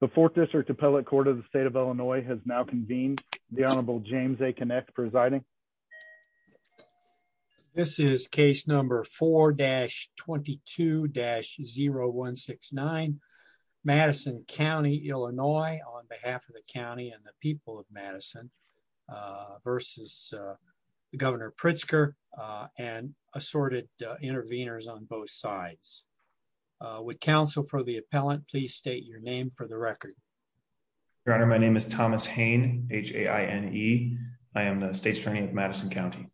The Fourth District Appellate Court of the State of Illinois has now convened. The Honorable James A. Kinect presiding. This is case number 4-22-0169. Madison County, Illinois on behalf of the county and the people of Madison versus Governor Pritzker and assorted intervenors on both sides. Would counsel for the appellant please state your name for the record. Your Honor, my name is Thomas Hain, H-A-I-N-E. I am the State's Attorney of Madison County.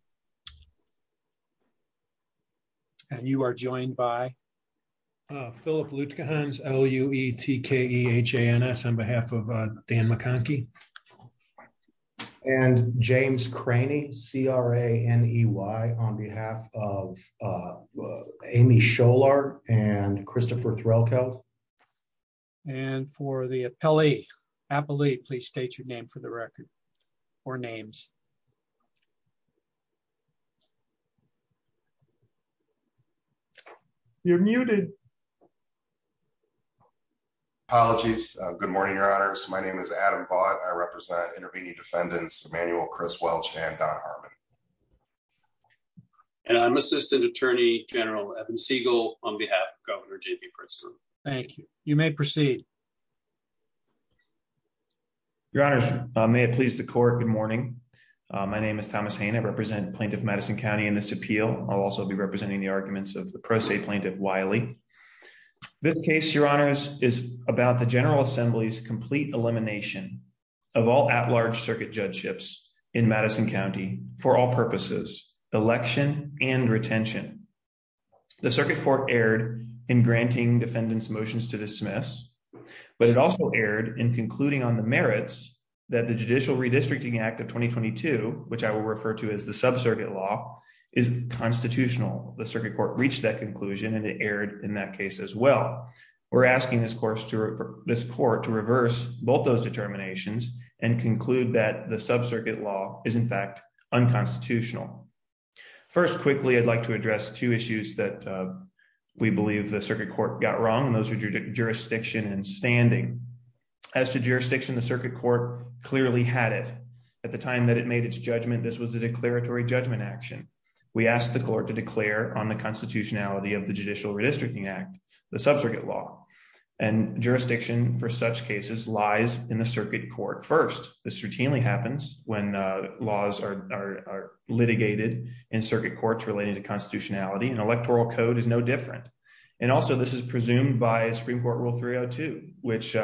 And you are joined by... Philip Lutkehans, L-U-E-T-K-E-H-A-N-S on behalf of Dan McConkie. And James Craney, C-R-A-N-E-Y on behalf of Amy Scholar and Christopher Threlkeld. And for the appellee, please state your name for the record or names. You're muted. Apologies. Good morning, Your Honors. My name is Adam Vaught. I represent intervening defendants Emmanuel Criswelch and Don Harmon. And I'm Assistant Attorney General Evan Siegel on behalf of Governor J.P. Pritzker. Thank you. You may proceed. Your Honors, may it please the court, good morning. My name is Thomas Hain. I represent Plaintiff Madison County in this appeal. I'll also be representing the arguments of the pro se plaintiff Wiley. This case, Your Honors, is about the General Assembly's complete elimination of all at-large circuit judgeships in Madison County for all purposes, election and retention. The Circuit Court erred in granting defendants motions to dismiss, but it also erred in concluding on the merits that the Judicial Redistricting Act of 2022, which I will refer to as the sub-circuit law, is constitutional. The Circuit Court reached that conclusion and it erred in that case as well. We're asking this court to reverse both those determinations and conclude that the sub-circuit law is, in fact, unconstitutional. First, quickly, I'd like to address two issues that we believe the Circuit Court got wrong, and those are jurisdiction and standing. As to jurisdiction, the Circuit Court clearly had it. At the time that it made its judgment, this was a declaratory judgment action. We asked the court to declare on the constitutionality of the Judicial Redistricting Act, the sub-circuit law, and jurisdiction for such cases lies in the Circuit Court. First, this routinely happens when laws are litigated in circuit courts relating to constitutionality, and electoral code is no different. And also, this is presumed by Supreme Court Rule 302, which,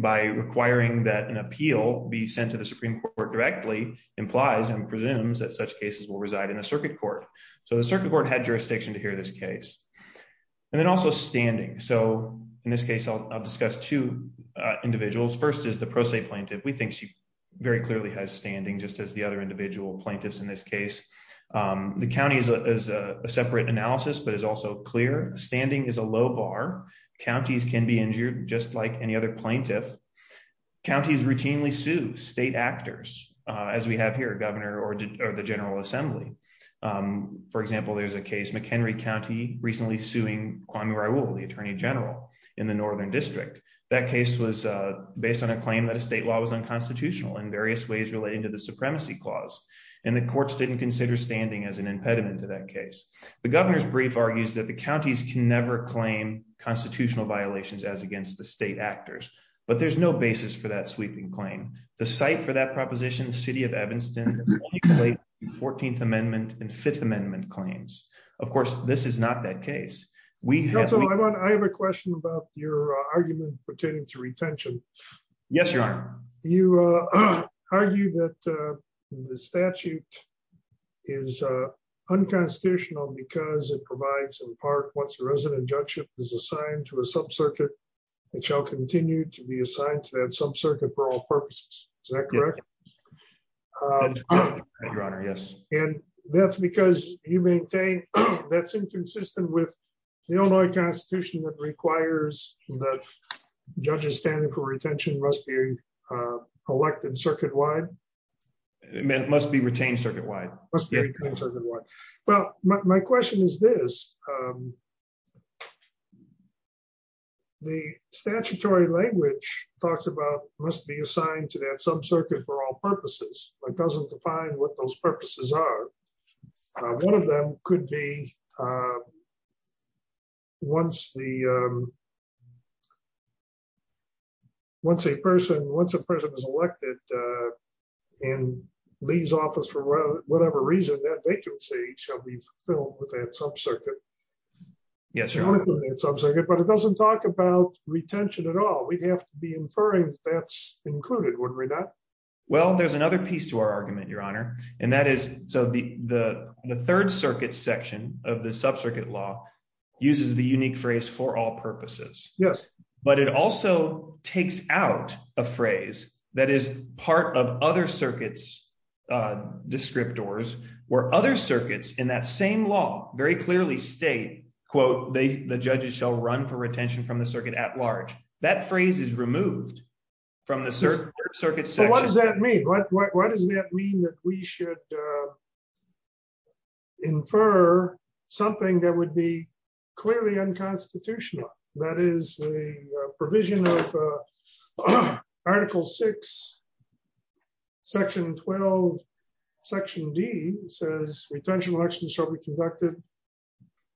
by requiring that an appeal be sent to the Supreme Court directly, implies and presumes that such cases will reside in the Circuit Court. So the Circuit Court had jurisdiction to hear this case. And then also standing. So, in this case, I'll discuss two individuals. First is the Pro Se Plaintiff. We think she very clearly has standing, just as the other individual plaintiffs in this case. The county is a separate analysis, but is also clear. Standing is a low bar. Counties can be injured, just like any other plaintiff. Counties routinely sue state actors, as we have here, Governor or the General Assembly. For example, there's a case, McHenry County, recently suing Kwame Raoul, the Attorney General, in the Northern District. That case was based on a claim that a state law was unconstitutional in various ways relating to the Supremacy Clause. And the courts didn't consider standing as an impediment to that case. The Governor's brief argues that the counties can never claim constitutional violations as against the state actors. But there's no basis for that sweeping claim. The site for that proposition, the City of Evanston, is only related to 14th Amendment and 5th Amendment claims. Of course, this is not that case. I have a question about your argument pertaining to retention. Yes, Your Honor. You argue that the statute is unconstitutional because it provides, in part, once a resident judge is assigned to a sub-circuit, it shall continue to be assigned to that sub-circuit for all purposes. Is that correct? Yes, Your Honor. And that's because you maintain that's inconsistent with the Illinois Constitution that requires that judges standing for retention must be elected circuit-wide? It must be retained circuit-wide. Well, my question is this. The statutory language talks about must be assigned to that sub-circuit for all purposes, but doesn't define what those purposes are. One of them could be once a person is elected and leaves office for whatever reason, that vacancy shall be filled with that sub-circuit. Yes, Your Honor. But it doesn't talk about retention at all. We'd have to be inferring that's included, wouldn't we not? Well, there's another piece to our argument, Your Honor, and that is the third circuit section of the sub-circuit law uses the unique phrase for all purposes. But it also takes out a phrase that is part of other circuits' descriptors, where other circuits in that same law very clearly state, quote, the judges shall run for retention from the circuit at large. That phrase is removed from the third circuit section. What does that mean? Why does that mean that we should infer something that would be clearly unconstitutional? That is the provision of Article 6, Section 12, Section D says retention elections shall be conducted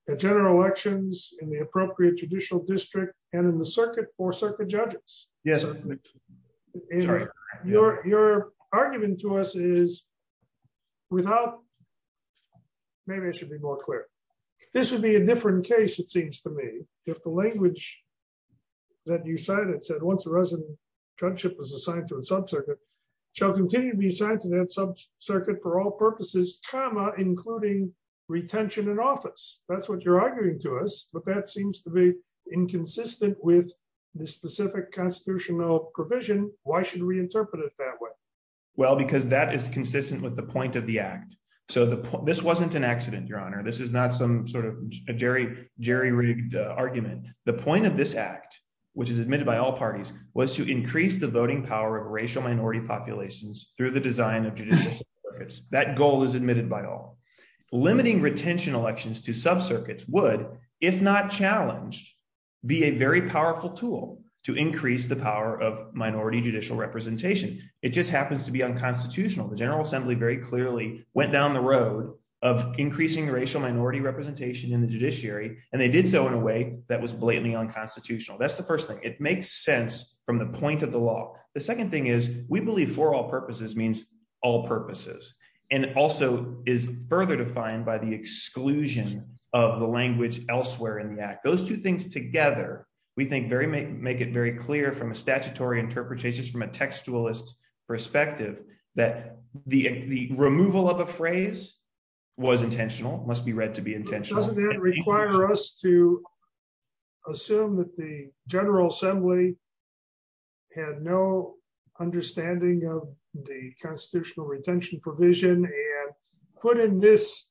at general elections in the appropriate judicial district and in the circuit for circuit judges. Yes, Your Honor. Maybe I should be more clear. This would be a different case, it seems to me, if the language that you cited said, once a resident was assigned to a sub-circuit, shall continue to be assigned to that sub-circuit for all purposes, comma, including retention in office. That's what you're arguing to us, but that seems to be inconsistent with the specific constitutional provision. Why should we interpret it that way? Well, because that is consistent with the point of the Act. So this wasn't an accident, Your Honor. This is not some sort of a jerry-rigged argument. The point of this Act, which is admitted by all parties, was to increase the voting power of racial minority populations through the design of judicial sub-circuits. That goal is admitted by all. Limiting retention elections to sub-circuits would, if not challenged, be a very powerful tool to increase the power of minority judicial representation. It just happens to be unconstitutional. The General Assembly very clearly went down the road of increasing racial minority representation in the judiciary, and they did so in a way that was blatantly unconstitutional. That's the first thing. It makes sense from the point of the law. The second thing is, we believe for all purposes means all purposes, and also is further defined by the exclusion of the language elsewhere in the Act. Those two things together, we think, make it very clear from a statutory interpretation, from a textualist perspective, that the removal of a phrase was intentional, must be read to be intentional. Doesn't that require us to assume that the General Assembly had no understanding of the constitutional retention provision and put in this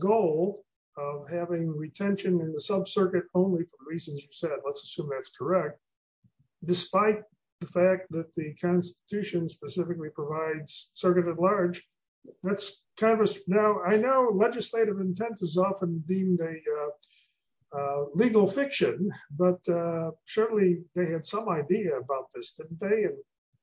goal of having retention in the sub-circuit only for the reasons you said? Let's assume that's correct. Despite the fact that the Constitution specifically provides circuit at large, I know legislative intent is often deemed a legal fiction, but surely they had some idea about this, didn't they?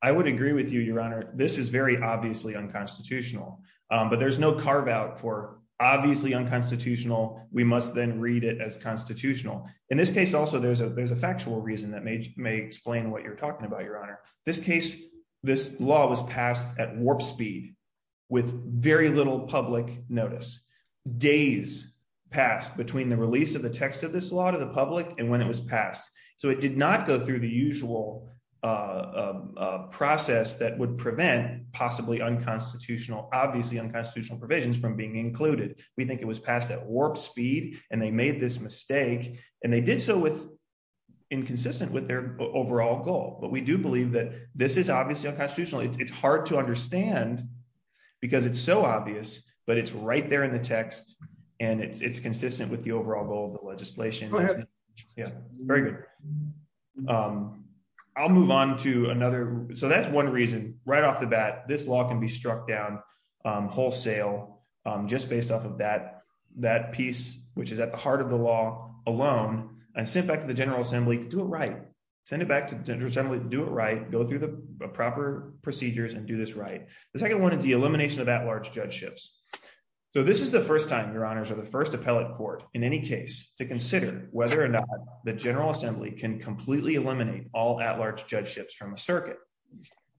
I would agree with you, Your Honor. This is very obviously unconstitutional, but there's no carve-out for obviously unconstitutional. We must then read it as constitutional. In this case also, there's a factual reason that may explain what you're talking about, Your Honor. This case, this law was passed at warp speed with very little public notice. Days passed between the release of the text of this law to the public and when it was passed. So it did not go through the usual process that would prevent possibly unconstitutional, obviously unconstitutional provisions from being included. We think it was passed at warp speed and they made this mistake and they did so inconsistent with their overall goal. But we do believe that this is obviously unconstitutional. It's hard to understand because it's so obvious, but it's right there in the text and it's consistent with the overall goal of the legislation. Go ahead. Very good. I'll move on to another. So that's one reason, right off the bat, this law can be struck down wholesale just based off of that piece, which is at the heart of the law alone and sent back to the General Assembly to do it right. Send it back to the General Assembly to do it right, go through the proper procedures and do this right. The second one is the elimination of at-large judgeships. So this is the first time, Your Honors, or the first appellate court in any case to consider whether or not the General Assembly can completely eliminate all at-large judgeships from a circuit.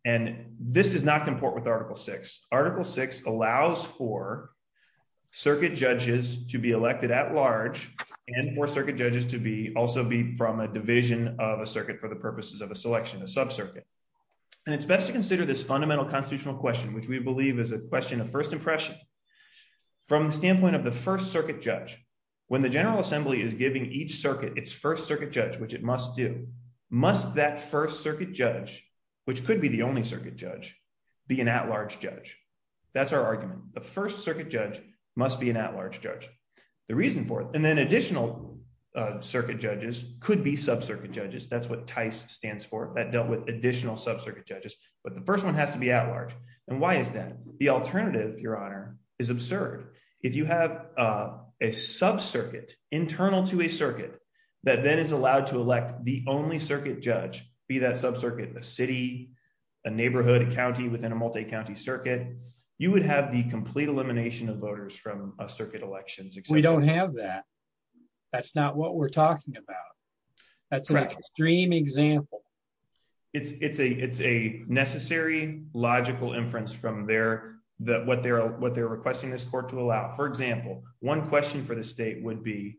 And this does not comport with Article VI. Article VI allows for circuit judges to be elected at-large and for circuit judges to also be from a division of a circuit for the purposes of a selection, a sub-circuit. And it's best to consider this fundamental constitutional question, which we believe is a question of first impression. From the standpoint of the first circuit judge, when the General Assembly is giving each circuit its first circuit judge, which it must do, must that first circuit judge, which could be the only circuit judge, be an at-large judge? That's our argument. The first circuit judge must be an at-large judge. The reason for it, and then additional circuit judges could be sub-circuit judges. That's what TICE stands for. That dealt with additional sub-circuit judges, but the first one has to be at-large. And why is that? The alternative, Your Honor, is absurd. If you have a sub-circuit internal to a circuit that then is allowed to elect the only circuit judge, be that sub-circuit a city, a neighborhood, a county within a multi-county circuit, you would have the complete elimination of voters from a circuit election. We don't have that. That's not what we're talking about. That's an extreme example. It's a necessary, logical inference from what they're requesting this court to allow. For example, one question for the state would be,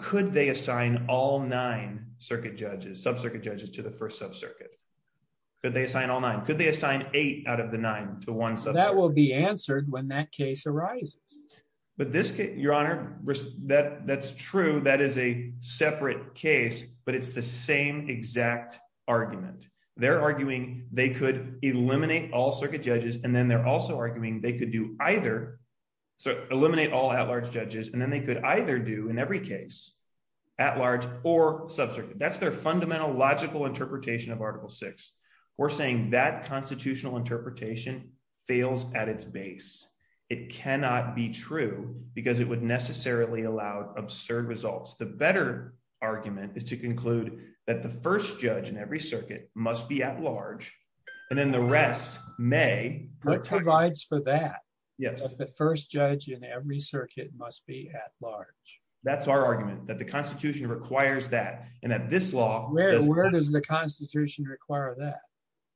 could they assign all nine sub-circuit judges to the first sub-circuit? Could they assign all nine? Could they assign eight out of the nine to one sub-circuit? That will be answered when that case arises. But this case, Your Honor, that's true. That is a separate case, but it's the same exact argument. They're arguing they could eliminate all circuit judges, and then they're also arguing they could do either, eliminate all at-large judges, and then they could either do, in every case, at-large or sub-circuit. That's their fundamental, logical interpretation of Article VI. We're saying that constitutional interpretation fails at its base. It cannot be true because it would necessarily allow absurd results. The better argument is to conclude that the first judge in every circuit must be at-large, and then the rest may. What provides for that? Yes. The first judge in every circuit must be at-large. That's our argument, that the Constitution requires that, and that this law— Where does the Constitution require that?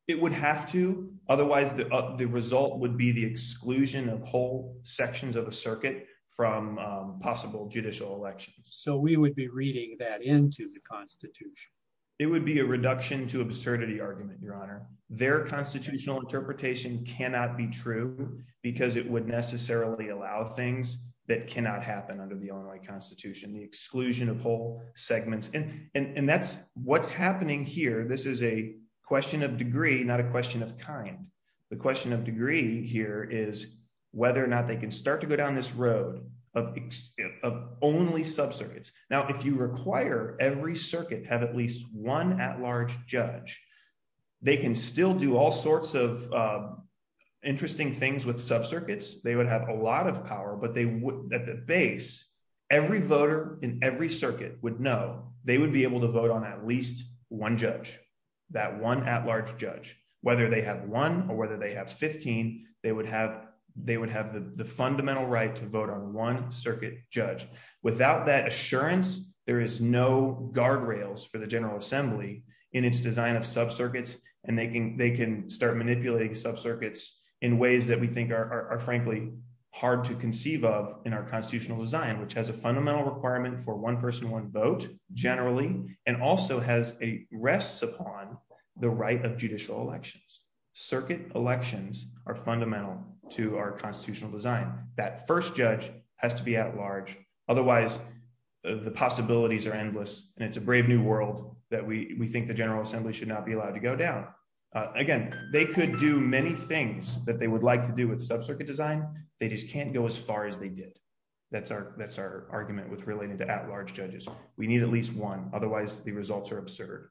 It would have to. Otherwise, the result would be the exclusion of whole sections of a circuit from possible judicial elections. So we would be reading that into the Constitution. It would be a reduction to absurdity argument, Your Honor. Their constitutional interpretation cannot be true because it would necessarily allow things that cannot happen under the Illinois Constitution, the exclusion of whole segments. And that's what's happening here. This is a question of degree, not a question of kind. The question of degree here is whether or not they can start to go down this road of only subcircuits. Now, if you require every circuit to have at least one at-large judge, they can still do all sorts of interesting things with subcircuits. They would have a lot of power, but at the base, every voter in every circuit would know they would be able to vote on at least one judge, that one at-large judge. Whether they have one or whether they have 15, they would have the fundamental right to vote on one circuit judge. Without that assurance, there is no guardrails for the General Assembly in its design of subcircuits, and they can start manipulating subcircuits in ways that we think are frankly hard to conceive of in our constitutional design, which has a fundamental requirement for one person, one vote, generally, and also rests upon the right of judicial elections. Circuit elections are fundamental to our constitutional design. That first judge has to be at-large. Otherwise, the possibilities are endless, and it's a brave new world that we think the General Assembly should not be allowed to go down. Again, they could do many things that they would like to do with subcircuit design, they just can't go as far as they did. That's our argument with relating to at-large judges. We need at least one, otherwise the results are absurd.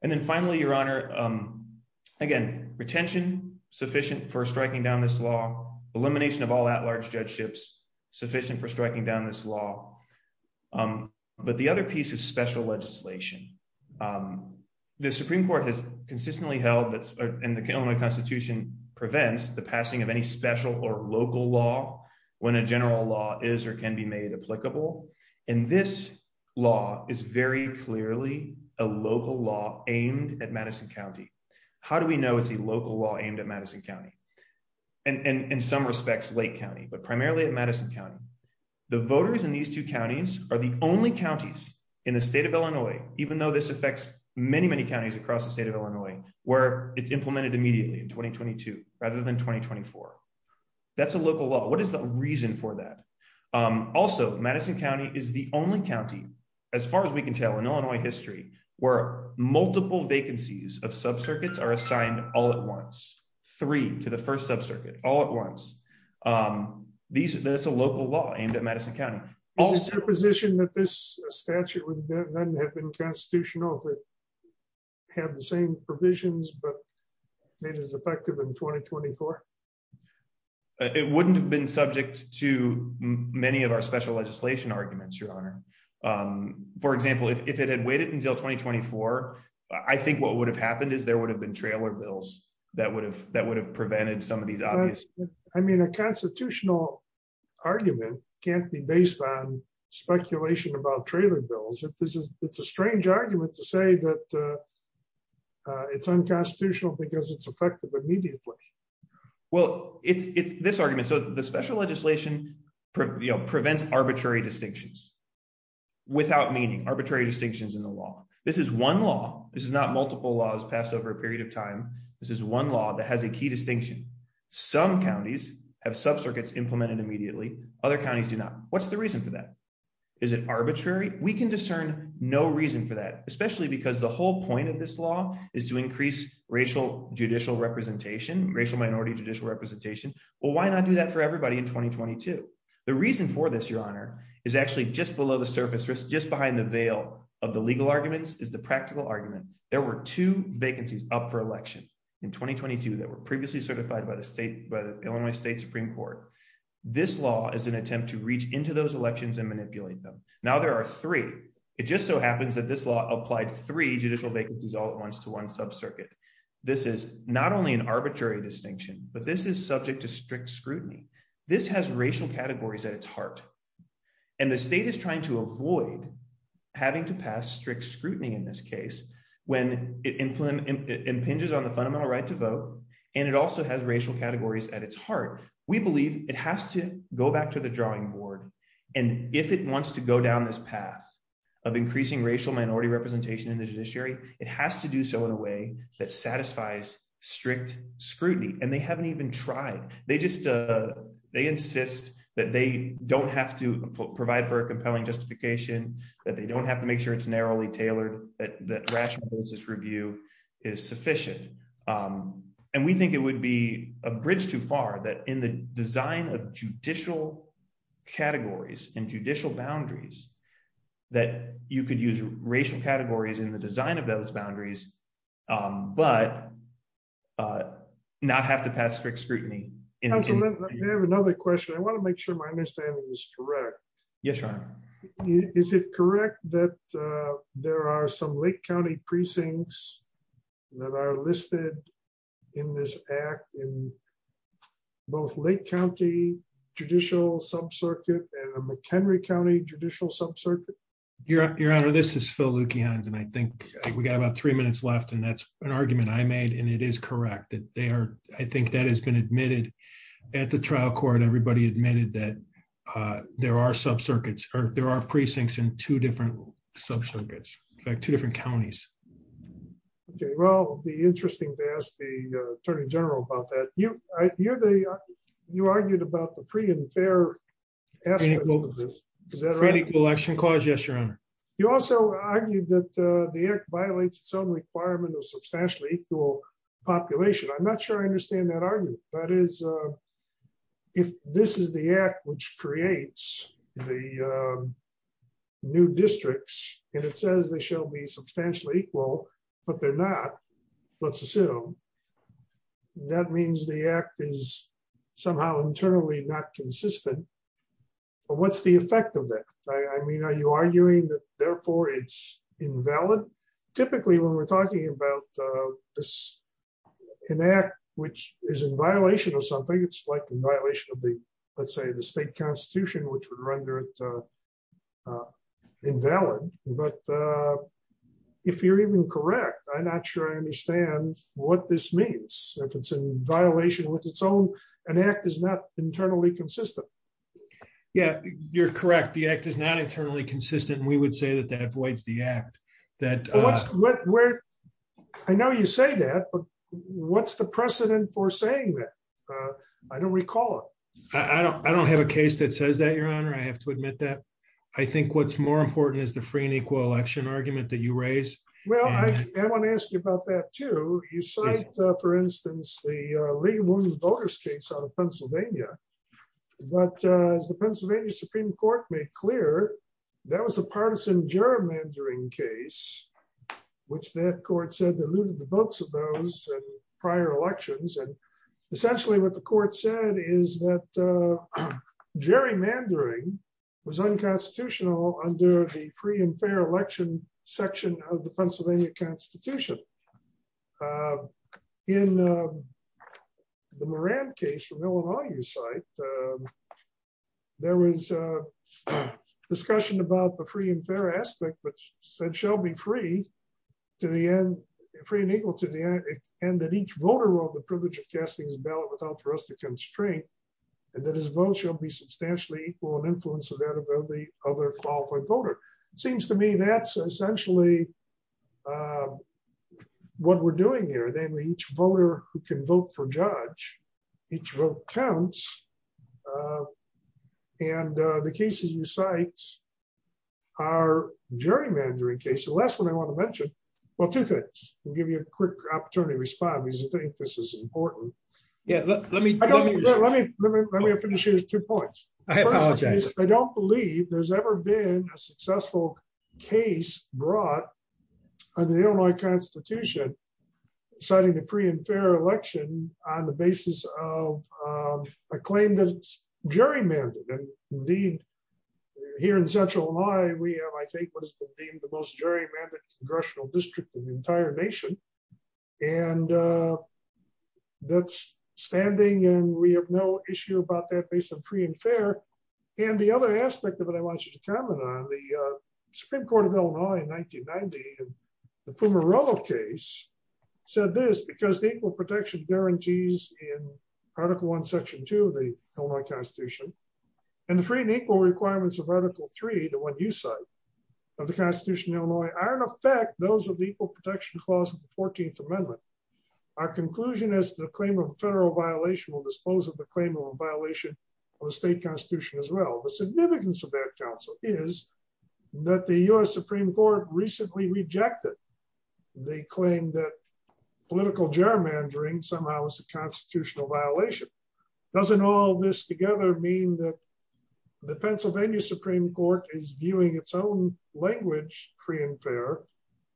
And then finally, Your Honor, again, retention sufficient for striking down this law, elimination of all at-large judgeships sufficient for striking down this law. But the other piece is special legislation. The Supreme Court has consistently held that the Illinois Constitution prevents the passing of any special or local law when a general law is or can be made applicable, and this law is very clearly a local law aimed at Madison County. How do we know it's a local law aimed at Madison County? In some respects, Lake County, but primarily at Madison County. The voters in these two counties are the only counties in the state of Illinois, even though this affects many, many counties across the state of Illinois, where it's implemented immediately in 2022 rather than 2024. That's a local law. What is the reason for that? Also, Madison County is the only county, as far as we can tell, in Illinois history, where multiple vacancies of subcircuits are assigned all at once. Three to the first subcircuit, all at once. That's a local law aimed at Madison County. Is it your position that this statute would then have been constitutional if it had the same provisions but made it effective in 2024? It wouldn't have been subject to many of our special legislation arguments, Your Honor. For example, if it had waited until 2024, I think what would have happened is there would have been trailer bills that would have prevented some of these obvious... Well, it's this argument. So the special legislation prevents arbitrary distinctions without meaning. Arbitrary distinctions in the law. This is one law. This is not multiple laws passed over a period of time. This is one law that has a key distinction. Some counties have subcircuits implemented immediately. Other counties do not. What's the reason for that? Is it arbitrary? We can discern no reason for that, especially because the whole point of this law is to increase racial judicial representation, racial minority judicial representation. Well, why not do that for everybody in 2022? The reason for this, Your Honor, is actually just below the surface, just behind the veil of the legal arguments, is the practical argument. There were two vacancies up for election in 2022 that were previously certified by the Illinois State Supreme Court. This law is an attempt to reach into those elections and manipulate them. Now there are three. It just so happens that this law applied three judicial vacancies all at once to one subcircuit. This is not only an arbitrary distinction, but this is subject to strict scrutiny. This has racial categories at its heart, and the state is trying to avoid having to pass strict scrutiny in this case when it impinges on the fundamental right to vote. And it also has racial categories at its heart. We believe it has to go back to the drawing board. And if it wants to go down this path of increasing racial minority representation in the judiciary, it has to do so in a way that satisfies strict scrutiny. And they haven't even tried. They just they insist that they don't have to provide for a compelling justification, that they don't have to make sure it's narrowly tailored, that rational justice review is sufficient. And we think it would be a bridge too far that in the design of judicial categories and judicial boundaries, that you could use racial categories in the design of those boundaries, but not have to pass strict scrutiny. I have another question. I want to make sure my understanding is correct. Yes, Your Honor. Is it correct that there are some Lake County precincts that are listed in this act in both Lake County judicial subcircuit and the McHenry County judicial subcircuit? Your Honor, this is Phil Lukians. And I think we got about three minutes left. And that's an argument I made. And it is correct that they are, I think that has been admitted at the trial court. Everybody admitted that there are subcircuits or there are precincts in two different subcircuits, two different counties. Okay, well, the interesting to ask the Attorney General about that. You argued about the free and fair. Is that right? Yes, Your Honor. You also argued that the act violates some requirement of substantially equal population. I'm not sure I understand that argument. That is, if this is the act which creates the new districts, and it says they shall be substantially equal, but they're not, let's assume, that means the act is somehow internally not consistent. What's the effect of that? I mean, are you arguing that, therefore, it's invalid? Typically, when we're talking about this, an act which is in violation of something, it's like in violation of the, let's say, the state constitution, which would render it invalid. But if you're even correct, I'm not sure I understand what this means. If it's in violation with its own, an act is not internally consistent. Yeah, you're correct. The act is not internally consistent. We would say that that avoids the act. I know you say that, but what's the precedent for saying that? I don't recall it. I don't have a case that says that, Your Honor. I have to admit that. I think what's more important is the free and equal election argument that you raise. Well, I want to ask you about that, too. You cite, for instance, the Lee-Woon voters case out of Pennsylvania. But as the Pennsylvania Supreme Court made clear, that was a partisan gerrymandering case, which that court said that looted the votes of those prior elections. And essentially what the court said is that gerrymandering was unconstitutional under the free and fair election section of the Pennsylvania Constitution. In the Moran case from Illinois, you cite, there was a discussion about the free and fair aspect, which said shall be free to the end, free and equal to the end, and that each voter will have the privilege of casting his ballot without for us to constrain, and that his vote shall be substantially equal in influence of that of every other qualified voter. Seems to me that's essentially what we're doing here. Namely, each voter who can vote for judge, each vote counts. And the cases you cite are gerrymandering cases. The last one I want to mention. Well, two things. I'll give you a quick opportunity to respond because I think this is important. Yeah, let me, let me, let me, let me finish here with two points. I apologize. I don't believe there's ever been a successful case brought in the Illinois Constitution, citing the free and fair election on the basis of a claim that it's gerrymandered. Indeed, here in Central Illinois, we have I think what has been deemed the most gerrymandered congressional district in the entire nation. And that's standing and we have no issue about that based on free and fair. And the other aspect of it I want you to comment on the Supreme Court of Illinois in 1990, the Fumarolo case said this because the equal protection guarantees in Article One, Section Two of the Illinois Constitution, and the free and equal requirements of Article Three, the one you cite, of the Constitution of Illinois are in effect those of the equal protection clause of the 14th Amendment. Our conclusion is the claim of a federal violation will dispose of the claim of a violation of the state constitution as well. The significance of that counsel is that the U.S. Supreme Court recently rejected the claim that political gerrymandering somehow is a constitutional violation. Doesn't all this together mean that the Pennsylvania Supreme Court is viewing its own language, free and fair,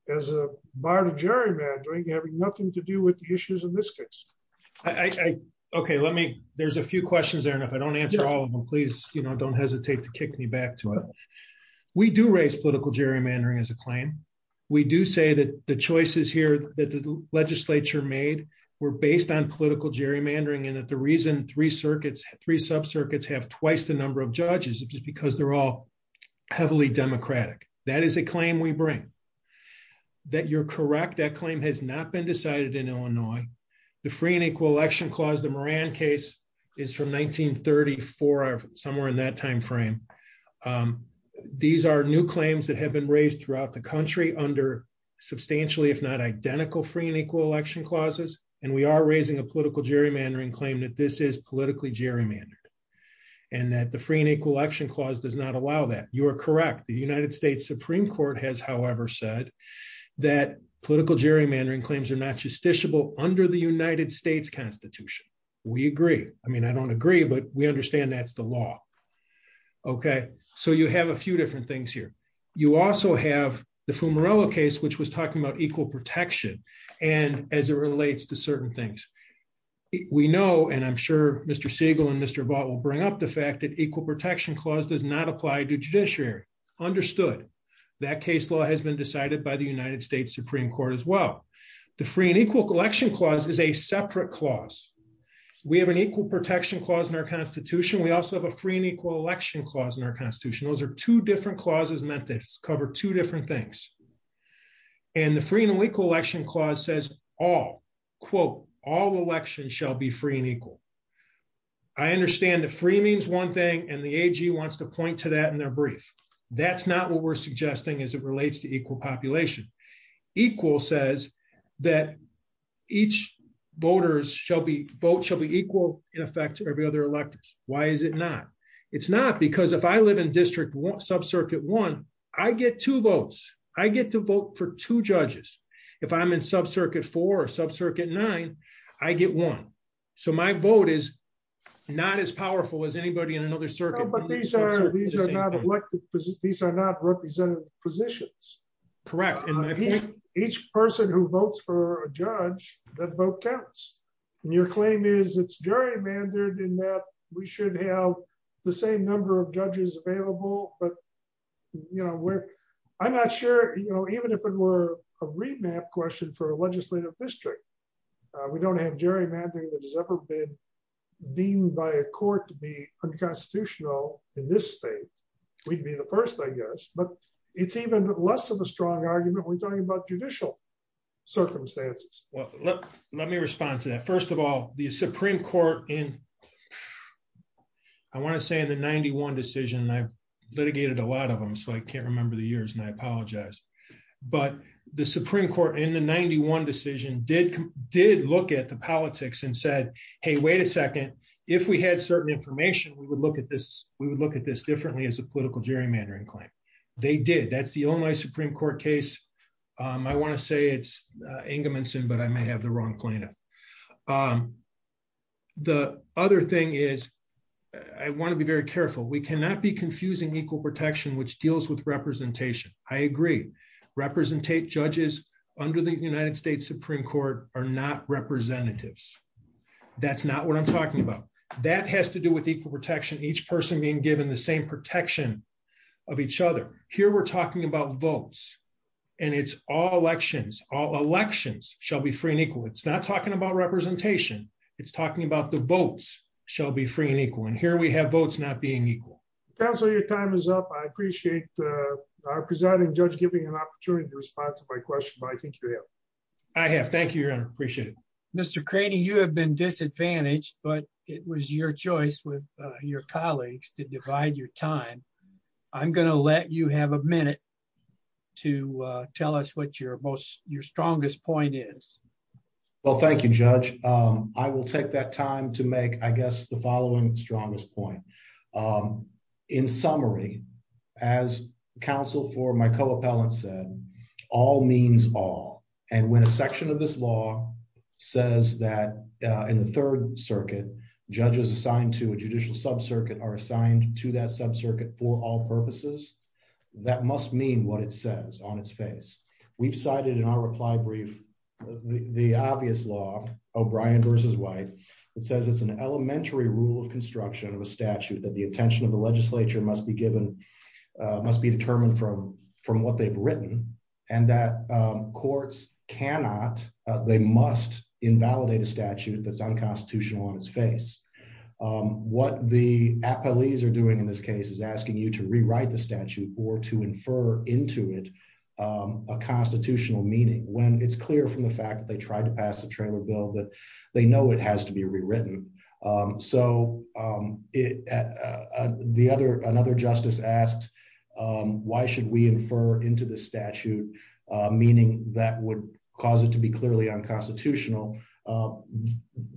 as a bar to gerrymandering having nothing to do with the issues in this case? Okay, let me, there's a few questions there and if I don't answer all of them, please, you know, don't hesitate to kick me back to it. We do raise political gerrymandering as a claim. We do say that the choices here that the legislature made were based on political gerrymandering and that the reason three circuits, three subcircuits have twice the number of judges, just because they're all heavily Democratic. That is a claim we bring. That you're correct, that claim has not been decided in Illinois. The free and equal election clause, the Moran case, is from 1934, somewhere in that time frame. These are new claims that have been raised throughout the country under substantially if not identical free and equal election clauses, and we are raising a political gerrymandering claim that this is politically gerrymandered. And that the free and equal election clause does not allow that. You are correct, the United States Supreme Court has, however, said that political gerrymandering claims are not justiciable under the United States Constitution. We agree. I mean, I don't agree, but we understand that's the law. Okay, so you have a few different things here. You also have the Fumarillo case which was talking about equal protection, and as it relates to certain things. We know, and I'm sure Mr. Siegel and Mr. Vaught will bring up the fact that equal protection clause does not apply to judiciary. Understood. That case law has been decided by the United States Supreme Court as well. The free and equal election clause is a separate clause. We have an equal protection clause in our Constitution. We also have a free and equal election clause in our Constitution. Those are two different clauses meant to cover two different things. And the free and equal election clause says all, quote, all elections shall be free and equal. I understand the free means one thing and the AG wants to point to that in their brief. That's not what we're suggesting as it relates to equal population. Equal says that each voters vote shall be equal in effect to every other electors. Why is it not? It's not because if I live in district one, subcircuit one, I get two votes. I get to vote for two judges. If I'm in subcircuit four or subcircuit nine, I get one. So my vote is not as powerful as anybody in another circuit. But these are not elected, these are not representative positions. Correct. Each person who votes for a judge, that vote counts. And your claim is it's gerrymandered in that we should have the same number of judges available, but, you know, I'm not sure, you know, even if it were a remap question for a legislative district. We don't have gerrymandering that has ever been deemed by a court to be unconstitutional in this state. We'd be the first, I guess, but it's even less of a strong argument when talking about judicial circumstances. Let me respond to that. First of all, the Supreme Court in, I want to say in the 91 decision and I've litigated a lot of them so I can't remember the years and I apologize. But the Supreme Court in the 91 decision did, did look at the politics and said, Hey, wait a second. If we had certain information we would look at this, we would look at this differently as a political gerrymandering claim. They did. That's the only Supreme Court case. I want to say it's Ingeman's in but I may have the wrong cleanup. The other thing is, I want to be very careful we cannot be confusing equal protection which deals with representation, I agree, representate judges under the United States Supreme Court are not representatives. That's not what I'm talking about. That has to do with equal protection each person being given the same protection of each other. Here we're talking about votes, and it's all elections, all elections shall be free and equal it's not talking about representation. It's talking about the votes shall be free and equal and here we have votes not being equal. That's all your time is up. I appreciate the presiding judge giving an opportunity to respond to my question but I think you have. I have. Thank you. I appreciate it. Mr Craney you have been disadvantaged, but it was your choice with your colleagues to divide your time. I'm going to let you have a minute to tell us what your most your strongest point is. Well, thank you, Judge, I will take that time to make I guess the following strongest point. In summary, as counsel for my co appellant said, all means all. And when a section of this law says that in the Third Circuit judges assigned to a judicial sub circuit are assigned to that sub circuit for all purposes. That must mean what it says on its face. We've cited in our reply brief. The obvious law, O'Brien versus white. It says it's an elementary rule of construction of a statute that the attention of the legislature must be given must be determined from, from what they've written, and that courts cannot. They must invalidate a statute that's unconstitutional on its face. What the police are doing in this case is asking you to rewrite the statute or to infer into it a constitutional meaning when it's clear from the fact that they tried to pass a trailer bill that they know it has to be rewritten. So, it. The other another justice asked, Why should we infer into the statute, meaning that would cause it to be clearly unconstitutional.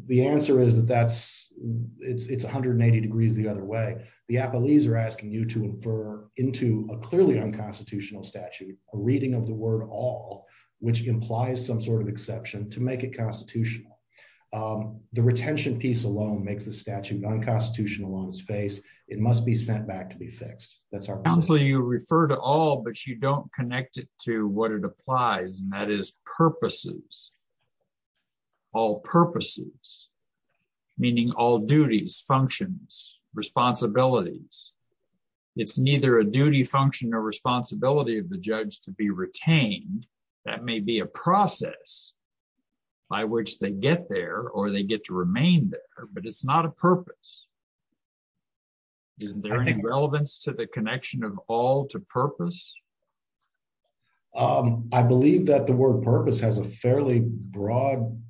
The answer is that that's, it's 180 degrees the other way. The appellees are asking you to infer into a clearly unconstitutional statute, a reading of the word all which implies some sort of exception to make it constitutional. The retention piece alone makes the statute unconstitutional on his face, it must be sent back to be fixed. That's our council you refer to all but you don't connect it to what it applies and that is purposes. All purposes, meaning all duties functions responsibilities. It's neither a duty function or responsibility of the judge to be retained. That may be a process by which they get there or they get to remain there, but it's not a purpose. Is there any relevance to the connection of all to purpose. I believe that the word purpose has a fairly broad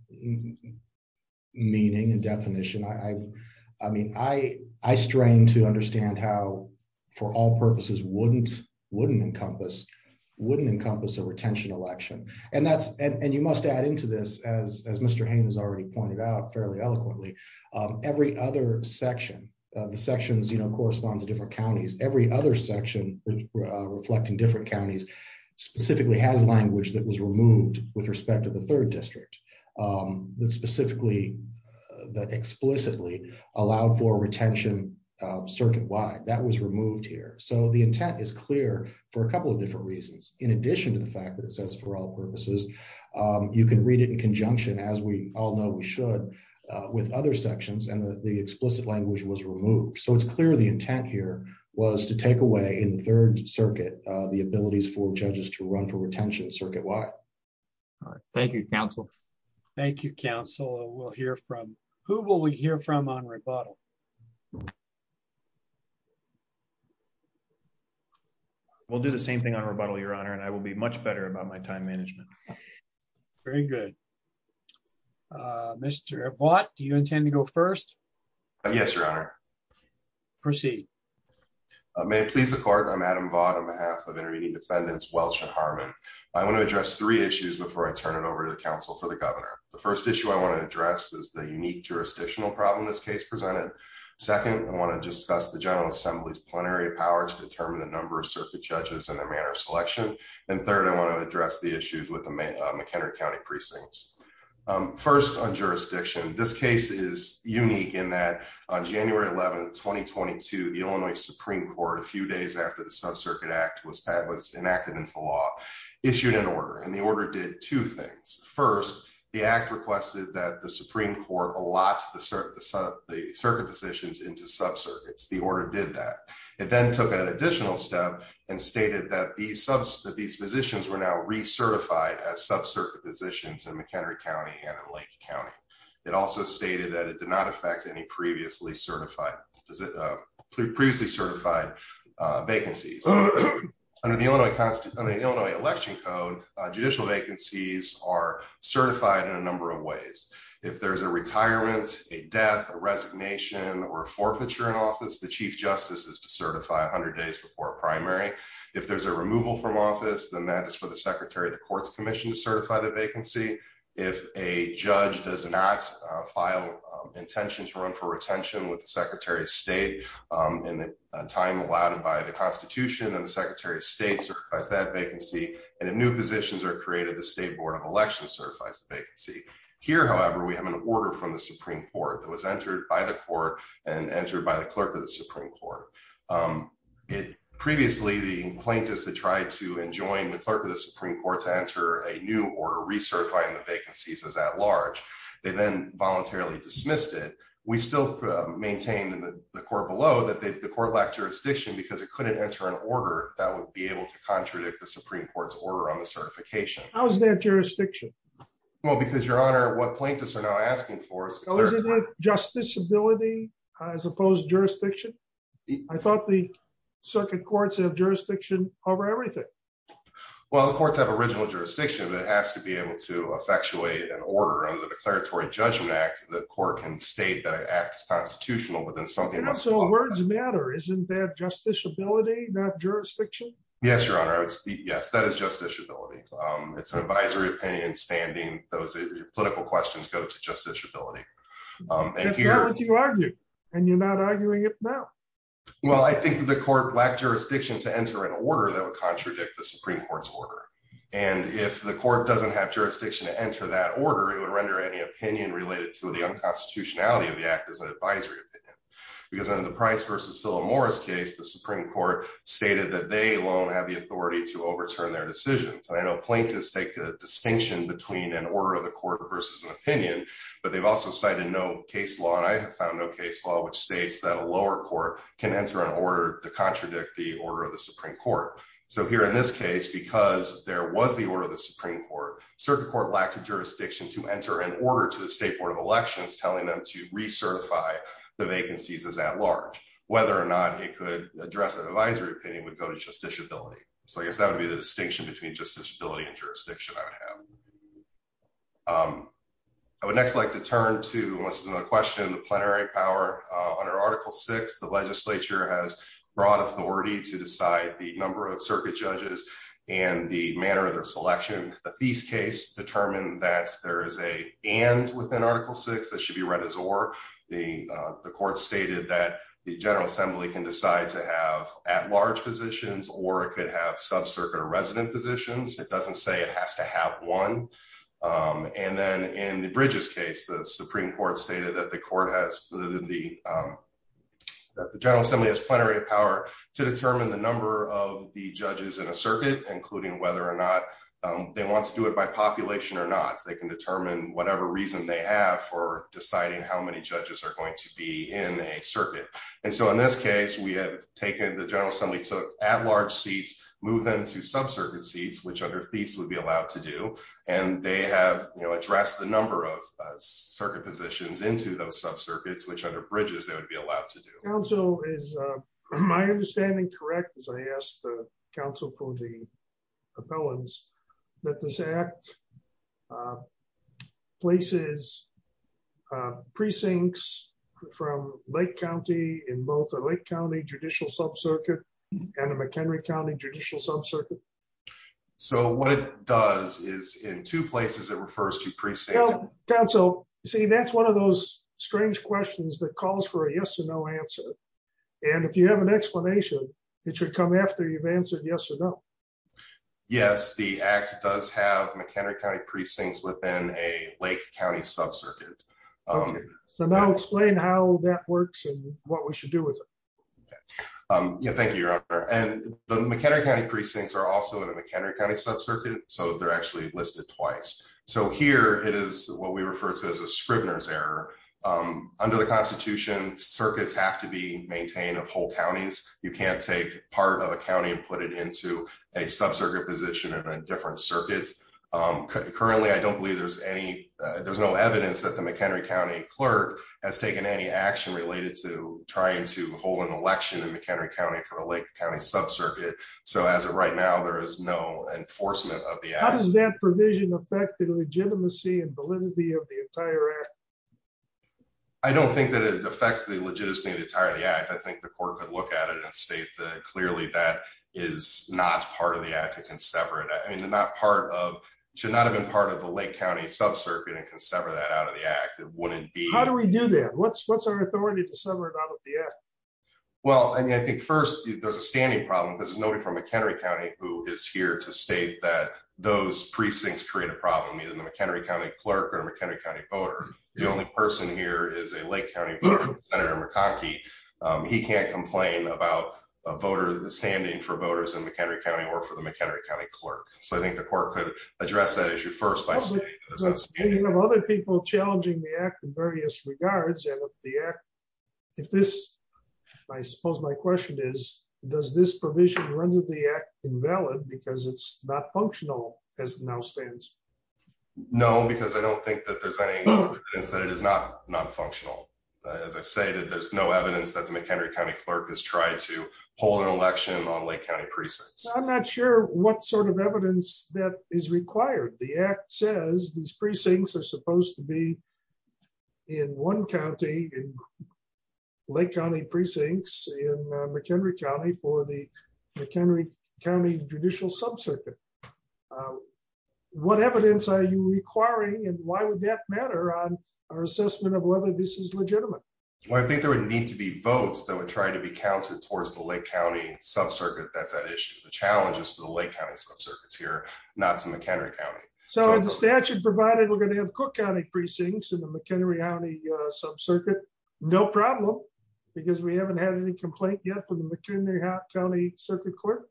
meaning and definition I, I mean I, I strain to understand how for all purposes wouldn't wouldn't encompass wouldn't encompass a retention election, and that's, and you must add into this as as Mr. Haynes already pointed out fairly eloquently. Every other section of the sections you know corresponds to different counties, every other section, reflecting different counties, specifically has language that was removed with respect to the third district. Specifically, that explicitly allowed for retention circuit wide that was removed here so the intent is clear for a couple of different reasons, in addition to the fact that it says for all purposes. You can read it in conjunction as we all know we should with other sections and the explicit language was removed so it's clear the intent here was to take away in the third circuit, the abilities for judges to run for retention circuit wide. Thank you, Council. Thank you, Council will hear from who will we hear from on rebuttal. We'll do the same thing on rebuttal Your Honor and I will be much better about my time management. Very good. Mr. What do you intend to go first. Yes, Your Honor. Proceed. May it please the court I'm Adam bottom half of intervening defendants Welch and Harmon. I want to address three issues before I turn it over to the council for the governor. The first issue I want to address is the unique jurisdictional problem this case presented. Second, I want to discuss the General Assembly's plenary power to determine the number of circuit judges and their manner of selection. And third I want to address the issues with the main McHenry County precincts. First on jurisdiction. This case is unique in that on January 11 2022 the Illinois Supreme Court a few days after the sub circuit act was that was enacted into law issued an order and the order did two things. First, the act requested that the Supreme Court a lot to the circuit the circuit positions into sub circuits the order did that. It then took an additional step and stated that the substance of these positions were now recertified as sub circuit positions and McHenry County and Lake County. It also stated that it did not affect any previously certified. Previously certified vacancies under the Illinois Constitution, the Illinois election code judicial vacancies are certified in a number of ways. If there's a retirement, a death resignation or forfeiture in office the chief justice is to certify 100 days before primary. If there's a removal from office than that is for the secretary of the courts commission to certify the vacancy. If a judge does not file intention to run for retention with the Secretary of State in the time allowed by the Constitution and the Secretary of State vacancy, and a new positions are created the state board of elections certifies the vacancy. Here, however, we have an order from the Supreme Court that was entered by the court and entered by the clerk of the Supreme Court. It previously the plaintiffs that tried to enjoin the clerk of the Supreme Court to enter a new order research by in the vacancies as at large, they then voluntarily dismissed it. We still maintain in the court below that the court lack jurisdiction because it couldn't enter an order that would be able to contradict the Supreme Court's order on the certification. How's that jurisdiction. Well, because your honor what plaintiffs are now asking for us. Justice ability, as opposed jurisdiction. I thought the circuit courts have jurisdiction over everything. Well the courts have original jurisdiction that has to be able to effectuate an order on the declaratory judgment act, the court can state that acts constitutional within something so words matter isn't that justice ability that jurisdiction. Yes, Your Honor. Yes, that is just disability. It's an advisory opinion standing, those political questions go to just disability. And you're not arguing it. Well, I think the court black jurisdiction to enter an order that would contradict the Supreme Court's order. And if the court doesn't have jurisdiction to enter that order it would render any opinion related to the unconstitutionality of the act as an advisory opinion, because I have found no case law which states that a lower court can answer an order to contradict the order of the Supreme Court. So here in this case because there was the order of the Supreme Court, certain court lack of jurisdiction to enter an order to the State Board of Elections telling them to recertify the vacancies is at large, whether or not it could address an advisory opinion would go to just disability. So I guess that would be the distinction between just disability and jurisdiction. I would next like to turn to a question the plenary power under Article six the legislature has broad authority to decide the number of circuit judges, and the manner of their selection of these case determine that there is a and within Article six And then in the bridges case the Supreme Court stated that the court has the General Assembly has plenary power to determine the number of the judges in a circuit, including whether or not they want to do it by population or not they can determine whatever reason they have for deciding how many judges are going to be in a circuit. And so in this case we have taken the General Assembly took at large seats, move them to sub circuit seats which other fees will be allowed to do, and they have, you know, address the number of circuit positions into those sub circuits which other bridges, they would be allowed to do so is my understanding correct as I asked the council for the appellants that this act places precincts from Lake County in both the Lake County judicial subcircuit and a McHenry County judicial subcircuit. So what it does is in two places it refers to precinct council, see that's one of those strange questions that calls for a yes or no answer. And if you have an explanation that should come after you've answered yes or no. Yes, the act does have McHenry County precincts within a Lake County sub circuit. So now explain how that works and what we should do with it. Yeah, thank you. And the McHenry County precincts are also in a McHenry County sub circuit, so they're actually listed twice. So here it is what we refer to as a Scribner's error. Under the Constitution circuits have to be maintained of whole counties, you can't take part of a county and put it into a sub circuit position of a different circuits. Currently, I don't believe there's any there's no evidence that the McHenry County clerk has taken any action related to trying to hold an election in McHenry County for the Lake County sub circuit. So as of right now there is no enforcement of the provision affected legitimacy and validity of the entire. I don't think that it affects the legitimacy of the entire the act I think the court could look at it and state that clearly that is not part of the act to can sever it I mean they're not part of should not have been part of the Lake County sub circuit and can sever that out of the act, it wouldn't be how do we do that what's what's our authority to sever it out of the act. Well, I think first, there's a standing problem because nobody from McHenry County, who is here to state that those precincts create a problem either in the McHenry County clerk or McHenry County voter. The only person here is a Lake County Senator McCarthy. He can't complain about a voter standing for voters in McHenry County or for the McHenry County clerk, so I think the court could address that issue first. Other people challenging the act in various regards and the act. If this. I suppose my question is, does this provision render the act invalid because it's not functional as now stands. No, because I don't think that there's any. It is not not functional. As I say that there's no evidence that the McHenry County clerk has tried to hold an election on Lake County precincts, I'm not sure what sort of evidence that is required the act says these precincts are supposed to be in one county. Lake County precincts in McHenry County for the McHenry County judicial sub circuit. What evidence are you requiring and why would that matter on our assessment of whether this is legitimate. I think there would need to be votes that would try to be counted towards the Lake County sub circuit that's an issue the challenges to the Lake County sub circuits here, not to McHenry County. So the statute provided we're going to have Cook County precincts in the McHenry County sub circuit. No problem, because we haven't had any complaint yet for the McHenry County circuit court.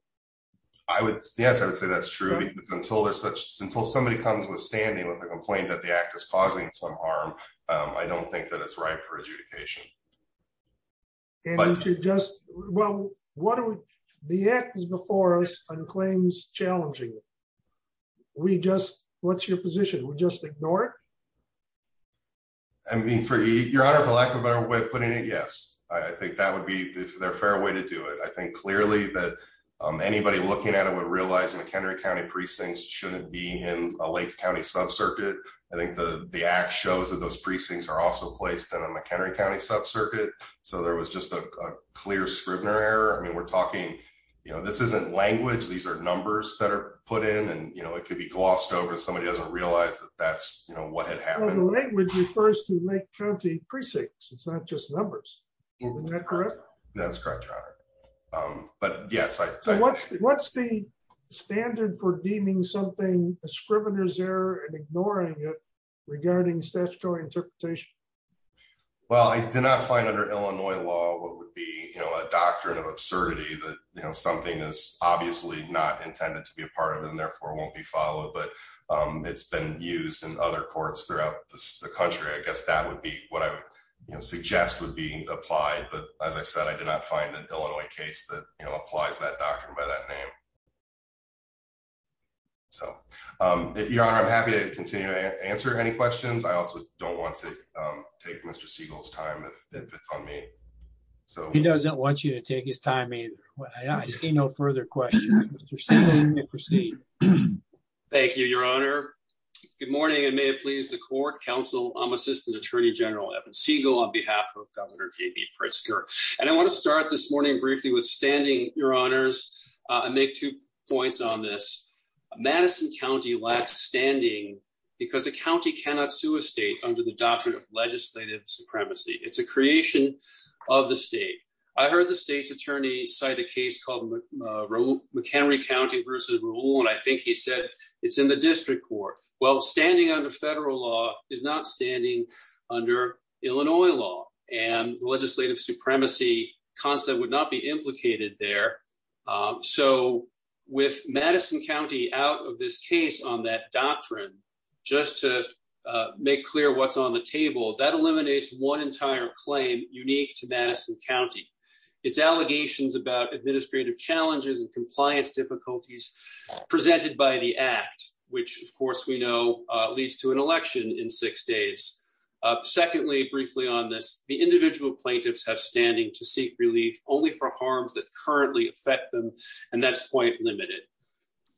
I would, yes, I would say that's true until there's such until somebody comes with standing with a complaint that the act is causing some harm. I don't think that it's right for adjudication. But just, well, what are the actors before us, and claims challenging. We just, what's your position we just ignore it. Your Honor, for lack of a better way of putting it, yes, I think that would be their fair way to do it I think clearly that anybody looking at it would realize McHenry County precincts shouldn't be in a Lake County sub circuit. I think the, the act shows that those precincts are also placed in a McHenry County sub circuit. So there was just a clear Scribner error I mean we're talking, you know, this isn't language these are numbers that are put in and you know it could be glossed over somebody doesn't realize that that's what had happened with the first to make county precincts, it's not just numbers. That's correct. But yes, I think what's the standard for deeming something Scribner's error and ignoring it regarding statutory interpretation. Well, I did not find under Illinois law, what would be, you know, a doctrine of absurdity that you know something is obviously not intended to be a part of and therefore won't be followed but it's been used in other courts throughout the country I guess that would be what I would suggest would be applied but as I said I did not find an Illinois case that applies that doctrine by that name. So, Your Honor I'm happy to continue to answer any questions I also don't want to take Mr Siegel's time if it's on me. So he doesn't want you to take his time either. I see no further questions. Thank you, Your Honor. Good morning and may it please the court counsel, I'm Assistant Attorney General Evan Siegel on behalf of Governor JB Pritzker, and I want to start this morning briefly with standing, Your Honors, and make two points on this. Because the county cannot sue a state under the doctrine of legislative supremacy, it's a creation of the state. I heard the state's attorney cite a case called McHenry County versus Raul and I think he said it's in the district court. Well, standing under federal law is not standing under Illinois law and legislative supremacy concept would not be implicated there. So, with Madison County out of this case on that doctrine, just to make clear what's on the table, that eliminates one entire claim unique to Madison County. It's allegations about administrative challenges and compliance difficulties presented by the act, which of course we know leads to an election in six days. Secondly, briefly on this, the individual plaintiffs have standing to seek relief, only for harms that currently affect them, and that's quite limited.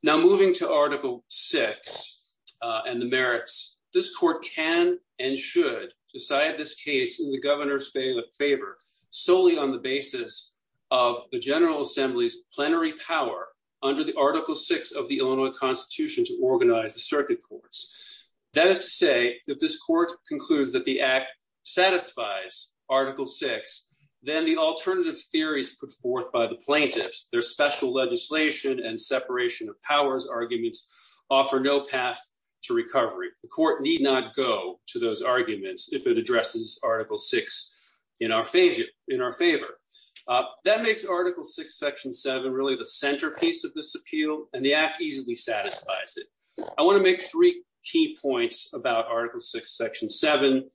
Now moving to Article VI and the merits, this court can and should decide this case in the governor's favor solely on the basis of the General Assembly's plenary power under the Article VI of the Illinois Constitution to organize the circuit courts. That is to say that this court concludes that the act satisfies Article VI, then the alternative theories put forth by the plaintiffs, their special legislation and separation of powers arguments, offer no path to recovery. The court need not go to those arguments if it addresses Article VI in our favor. That makes Article VI, Section 7 really the centerpiece of this appeal, and the act easily satisfies it. I want to make three key points about Article VI, Section 7.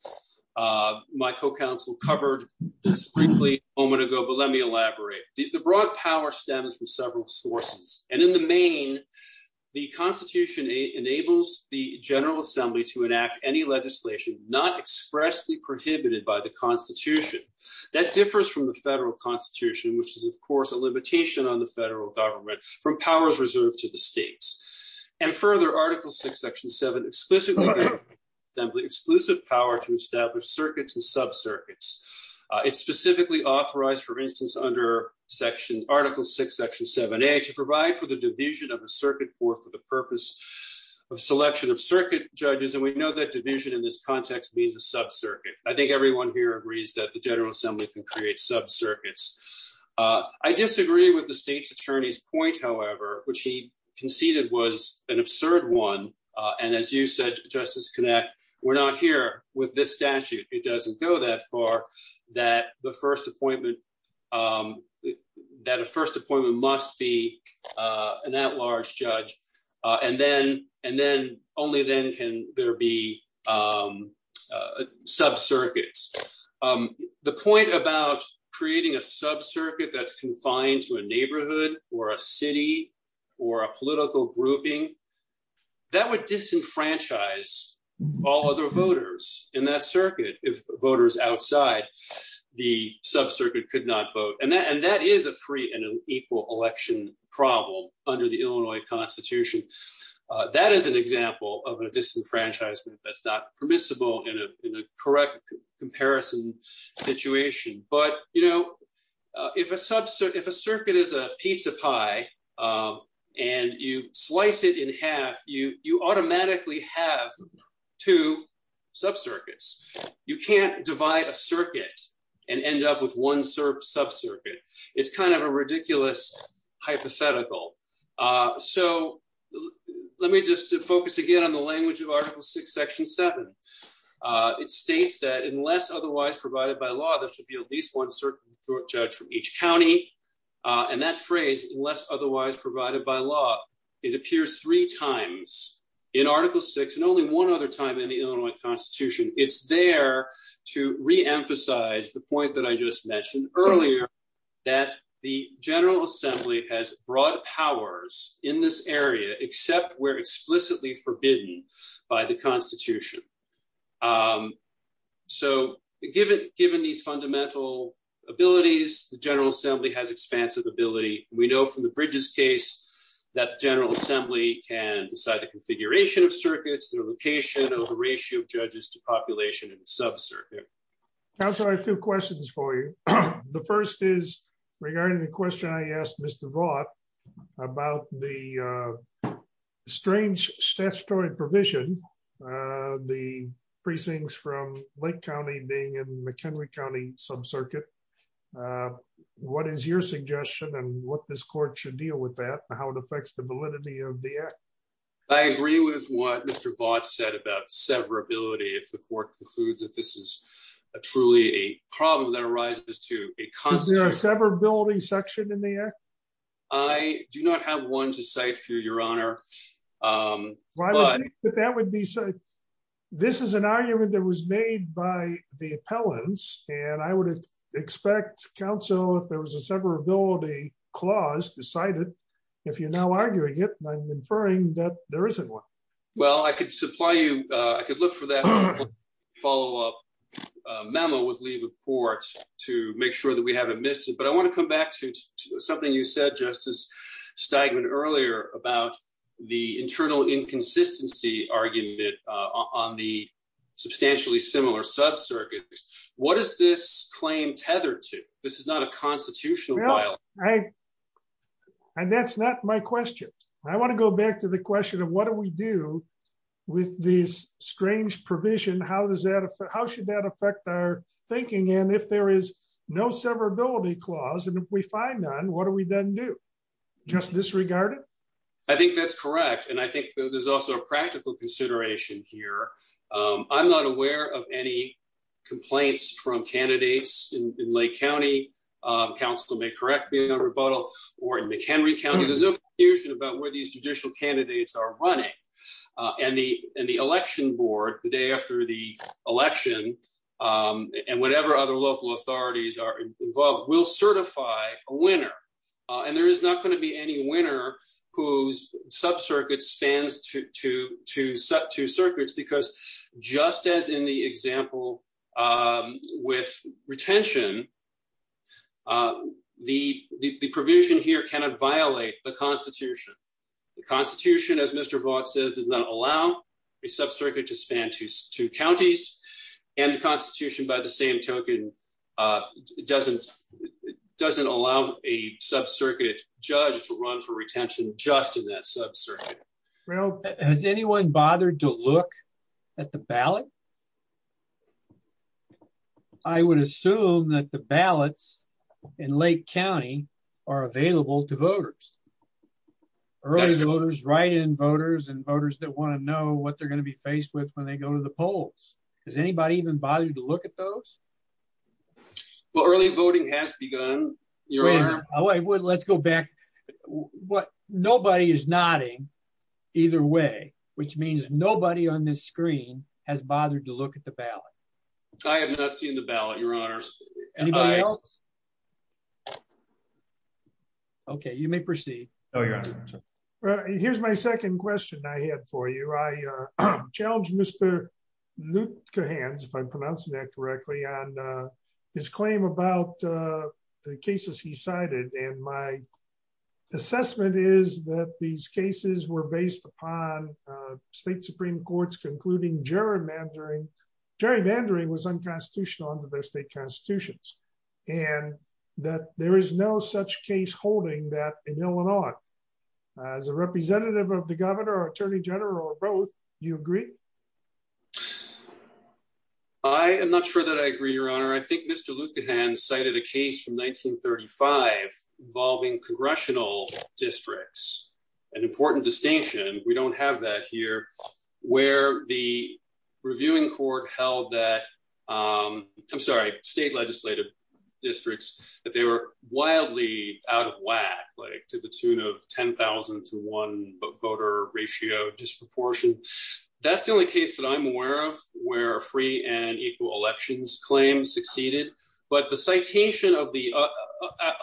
My co-counsel covered this briefly a moment ago, but let me elaborate. The broad power stems from several sources, and in the main, the Constitution enables the General Assembly to enact any legislation not expressly prohibited by the Constitution. That differs from the federal Constitution, which is, of course, a limitation on the federal government from powers reserved to the states. And further, Article VI, Section 7 explicitly gives the General Assembly exclusive power to establish circuits and sub-circuits. It's specifically authorized, for instance, under Article VI, Section 7a, to provide for the division of a circuit court for the purpose of selection of circuit judges, and we know that division in this context means a sub-circuit. I think everyone here agrees that the General Assembly can create sub-circuits. I disagree with the state's attorney's point, however, which he conceded was an absurd one. And as you said, Justice Knapp, we're not here with this statute. It doesn't go that far, that the first appointment, that a first appointment must be an at-large judge, and then only then can there be sub-circuits. The point about creating a sub-circuit that's confined to a neighborhood or a city or a political grouping, that would disenfranchise all other voters in that circuit if voters outside the sub-circuit could not vote. And that is a free and equal election problem under the Illinois Constitution. That is an example of a disenfranchisement that's not permissible in a correct comparison situation. But, you know, if a circuit is a pizza pie and you slice it in half, you automatically have two sub-circuits. You can't divide a circuit and end up with one sub-circuit. It's kind of a ridiculous hypothetical. So let me just focus again on the language of Article VI, Section 7. It states that unless otherwise provided by law, there should be at least one circuit judge from each county. And that phrase, unless otherwise provided by law, it appears three times in Article VI and only one other time in the Illinois Constitution. It's there to reemphasize the point that I just mentioned earlier, that the General Assembly has broad powers in this area except where explicitly forbidden by the Constitution. So, given these fundamental abilities, the General Assembly has expansive ability. We know from the Bridges case that the General Assembly can decide the configuration of circuits, their location, or the ratio of judges to population in a sub-circuit. Counsel, I have two questions for you. The first is regarding the question I asked Mr. Vaught about the strange statutory provision, the precincts from Lake County being in McHenry County sub-circuit. What is your suggestion and what this court should deal with that and how it affects the validity of the act? I agree with what Mr. Vaught said about severability if the court concludes that this is truly a problem that arises to a constitution. Is there a severability section in the act? I do not have one to cite for you, Your Honor. This is an argument that was made by the appellants and I would expect counsel, if there was a severability clause, to cite it. If you're now arguing it, I'm inferring that there isn't one. Well, I could supply you, I could look for that follow-up memo with leave of court to make sure that we haven't missed it. But I want to come back to something you said, Justice Stegman, earlier about the internal inconsistency argument on the substantially similar sub-circuit. What is this claim tethered to? This is not a constitutional violation. And that's not my question. I want to go back to the question of what do we do with this strange provision? How should that affect our thinking? And if there is no severability clause, and if we find none, what do we then do? Just disregard it? I think that's correct. And I think there's also a practical consideration here. I'm not aware of any complaints from candidates in Lake County. Counsel may correct me on rebuttal. Or in McHenry County, there's no confusion about where these judicial candidates are running. And the election board, the day after the election, and whatever other local authorities are involved, will certify a winner. And there is not going to be any winner whose sub-circuit spans two circuits, because just as in the example with retention, the provision here cannot violate the Constitution. The Constitution, as Mr. Vaught says, does not allow a sub-circuit to span two counties. And the Constitution, by the same token, doesn't allow a sub-circuit judge to run for retention just in that sub-circuit. Has anyone bothered to look at the ballot? I would assume that the ballots in Lake County are available to voters. Early voters, write-in voters, and voters that want to know what they're going to be faced with when they go to the polls. Has anybody even bothered to look at those? Well, early voting has begun, Your Honor. Let's go back. Nobody is nodding either way, which means nobody on this screen has bothered to look at the ballot. I have not seen the ballot, Your Honors. Anybody else? Okay, you may proceed. Here's my second question I have for you. I challenge Mr. Lutkehans, if I'm pronouncing that correctly, on his claim about the cases he cited. And my assessment is that these cases were based upon state Supreme Courts concluding gerrymandering. Gerrymandering was unconstitutional under their state constitutions, and that there is no such case holding that in Illinois. As a representative of the governor or attorney general or both, do you agree? I am not sure that I agree, Your Honor. I think Mr. Lutkehans cited a case from 1935 involving congressional districts. An important distinction, we don't have that here, where the reviewing court held that, I'm sorry, state legislative districts, that they were wildly out of whack, like to the tune of 10,000 to one voter ratio disproportion. That's the only case that I'm aware of where a free and equal elections claim succeeded. But the citation of the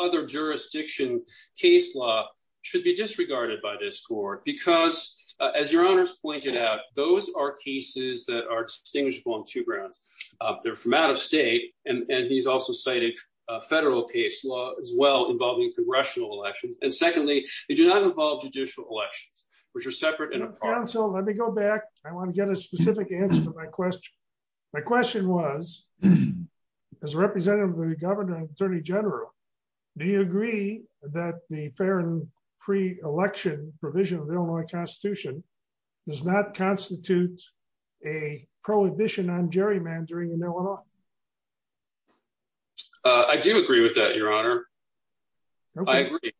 other jurisdiction case law should be disregarded by this court because, as Your Honors pointed out, those are cases that are distinguishable on two grounds. They're from out of state, and he's also cited federal case law as well involving congressional elections. And secondly, they do not involve judicial elections, which are separate and apart. So let me go back. I want to get a specific answer to my question. My question was, as a representative of the governor and attorney general, do you agree that the fair and free election provision of the Illinois Constitution does not constitute a prohibition on gerrymandering in Illinois? I do agree with that, Your Honor. I agree.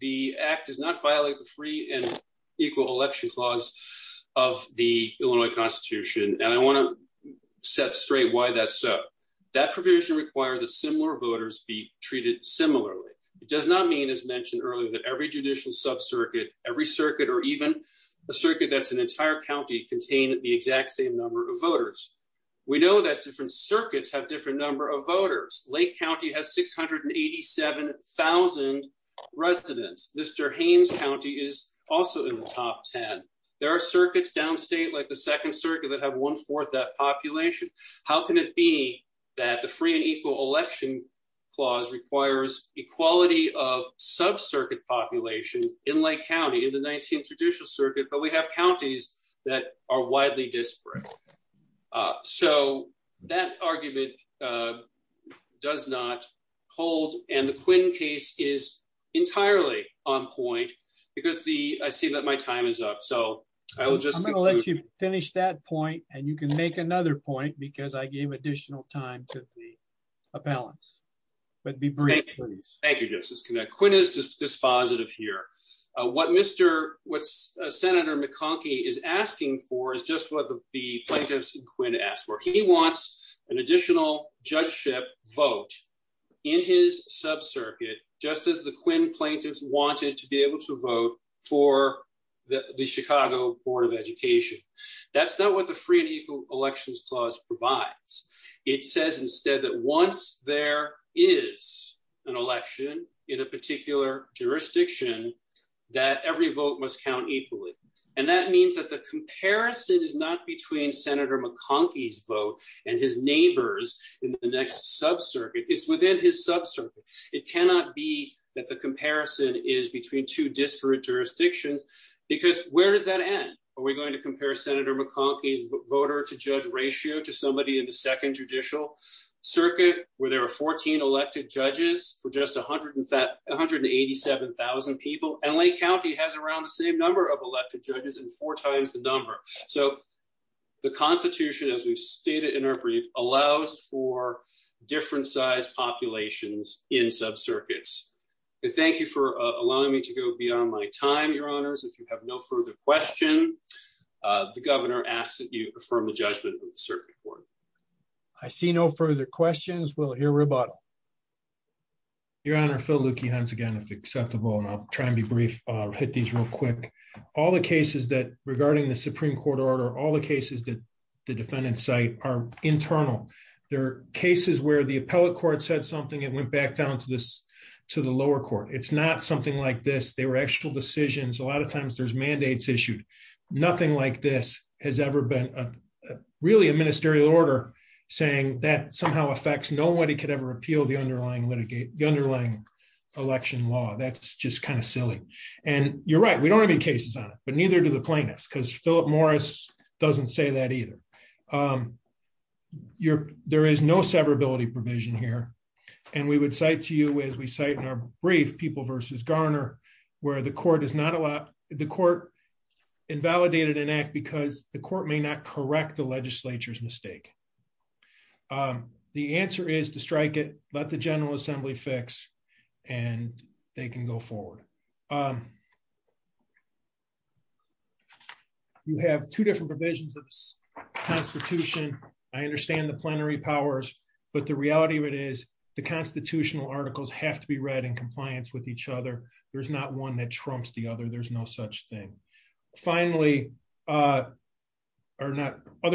The act does not violate the free and equal election clause of the Illinois Constitution, and I want to set straight why that's so. That provision requires that similar voters be treated similarly. It does not mean, as mentioned earlier, that every judicial sub-circuit, every circuit, or even a circuit that's an entire county, contain the exact same number of voters. We know that different circuits have different number of voters. Lake County has 687,000 residents. Mr. Haynes County is also in the top 10. There are circuits downstate, like the Second Circuit, that have one-fourth that population. How can it be that the free and equal election clause requires equality of sub-circuit population in Lake County, in the 19th Judicial Circuit, but we have counties that are widely disparate? So, that argument does not hold, and the Quinn case is entirely on point, because I see that my time is up. I'm going to let you finish that point, and you can make another point, because I gave additional time to the appellants, but be brief, please. Thank you, Justice Connett. Quinn is dispositive here. What Senator McConkie is asking for is just what the plaintiffs in Quinn asked for. He wants an additional judgeship vote in his sub-circuit, just as the Quinn plaintiffs wanted to be able to vote for the Chicago Board of Education. That's not what the free and equal elections clause provides. It says instead that once there is an election in a particular jurisdiction, that every vote must count equally. And that means that the comparison is not between Senator McConkie's vote and his neighbors in the next sub-circuit. It's within his sub-circuit. It cannot be that the comparison is between two disparate jurisdictions, because where does that end? Are we going to compare Senator McConkie's voter-to-judge ratio to somebody in the second judicial circuit, where there are 14 elected judges for just 187,000 people? And Lake County has around the same number of elected judges and four times the number. So the Constitution, as we've stated in our brief, allows for different sized populations in sub-circuits. Thank you for allowing me to go beyond my time, Your Honors. If you have no further question, the governor asks that you affirm the judgment of the circuit court. I see no further questions. We'll hear rebuttal. Your Honor, Phil Lueke, once again, if acceptable, and I'll try and be brief. I'll hit these real quick. All the cases that regarding the Supreme Court order, all the cases that the defendants cite are internal. They're cases where the appellate court said something and went back down to the lower court. It's not something like this. They were actual decisions. A lot of times there's mandates issued. Nothing like this has ever been really a ministerial order saying that somehow affects nobody could ever appeal the underlying litigation, the underlying election law. That's just kind of silly. And you're right, we don't have any cases on it, but neither do the plaintiffs, because Philip Morris doesn't say that either. There is no severability provision here. And we would cite to you as we cite in our brief, People v. Garner, where the court is not allowed, the court invalidated an act because the court may not correct the legislature's mistake. The answer is to strike it, let the General Assembly fix, and they can go forward. You have two different provisions of the Constitution. I understand the plenary powers, but the reality of it is the constitutional articles have to be read in compliance with each other. There's not one that trumps the other. There's no such thing. Finally, other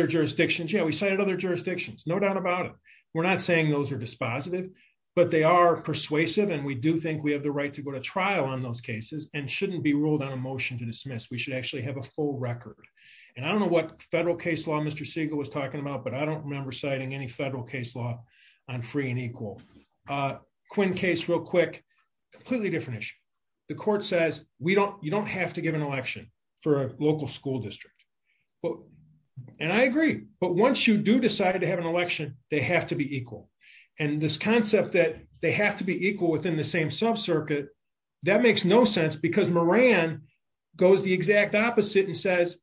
jurisdictions, yeah, we cited other jurisdictions, no doubt about it. We're not saying those are dispositive, but they are persuasive and we do think we have the right to go to trial on those cases and shouldn't be ruled on a motion to dismiss. We should actually have a full record. And I don't know what federal case law Mr. Siegel was talking about, but I don't remember citing any federal case law on free and equal. Quinn case real quick, completely different issue. The court says, you don't have to give an election for a local school district. And I agree, but once you do decide to have an election, they have to be equal. And this concept that they have to be equal within the same subcircuit, that makes no sense because Moran goes the exact opposite and says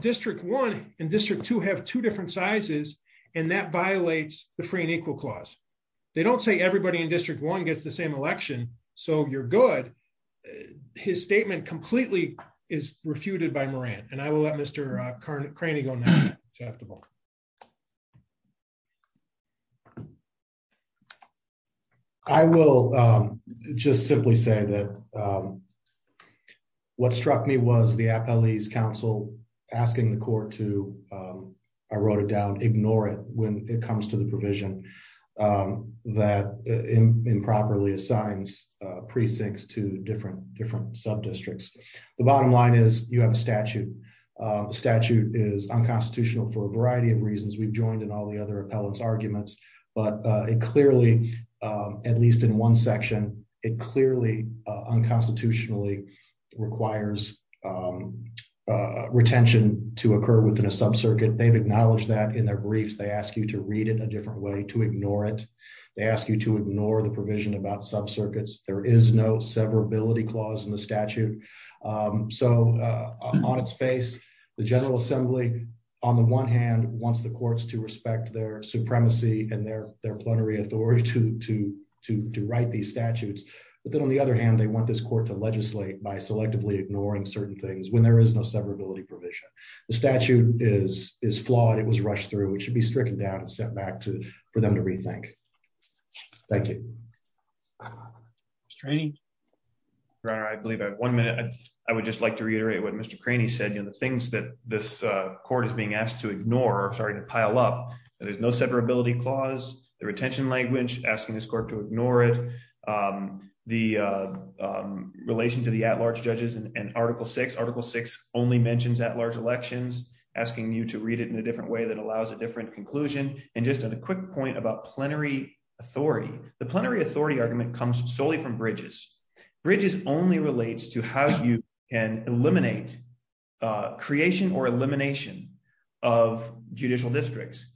District 1 and District 2 have two They don't say everybody in District one gets the same election. So you're good. His statement completely is refuted by Moran, and I will let Mr Carney go next. I will just simply say that What struck me was the appellee's counsel asking the court to, I wrote it down, ignore it when it comes to the provision that improperly assigns precincts to different sub districts. The bottom line is you have a statute. The statute is unconstitutional for a variety of reasons. We've joined in all the other appellate's arguments, but it clearly, at least in one section, it clearly unconstitutionally requires retention to occur within a subcircuit. They've acknowledged that in their briefs. They ask you to read it a different way, to ignore it. They ask you to ignore the provision about subcircuits. There is no severability clause in the statute. So on its face, the General Assembly, on the one hand, wants the courts to respect their supremacy and their plenary authority to write these statutes. But then on the other hand, they want this court to legislate by selectively ignoring certain things when there is no severability provision. The statute is flawed. It was rushed through. It should be stricken down and sent back for them to rethink. Thank you. Mr. Haney? Your Honor, I believe I have one minute. I would just like to reiterate what Mr. Craney said. The things that this court is being asked to ignore are starting to pile up. There's no severability clause, the retention language, asking this court to ignore it, the relation to the at-large judges and Article VI. Article VI only mentions at-large elections, asking you to read it in a different way that allows a different conclusion. And just on a quick point about plenary authority, the plenary authority argument comes solely from Bridges. Bridges only relates to how you can eliminate creation or elimination of judicial districts.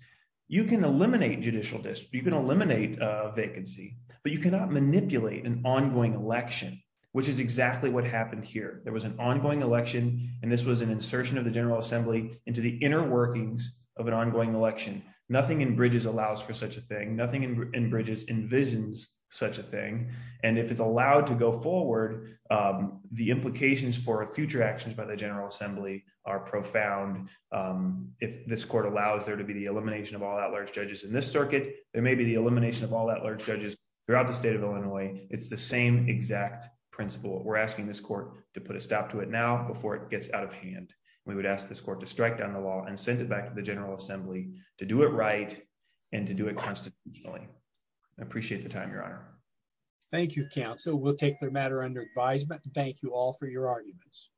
You can eliminate judicial districts, you can eliminate vacancy, but you cannot manipulate an ongoing election, which is exactly what happened here. There was an ongoing election, and this was an insertion of the General Assembly into the inner workings of an ongoing election. Nothing in Bridges allows for such a thing. Nothing in Bridges envisions such a thing. And if it's allowed to go forward, the implications for future actions by the General Assembly are profound. If this court allows there to be the elimination of all at-large judges in this circuit, there may be the elimination of all at-large judges throughout the state of Illinois. It's the same exact principle. We're asking this court to put a stop to it now before it gets out of hand. We would ask this court to strike down the law and send it back to the General Assembly to do it right and to do it constitutionally. I appreciate the time, Your Honor. Thank you, counsel. We'll take the matter under advisement. Thank you all for your arguments.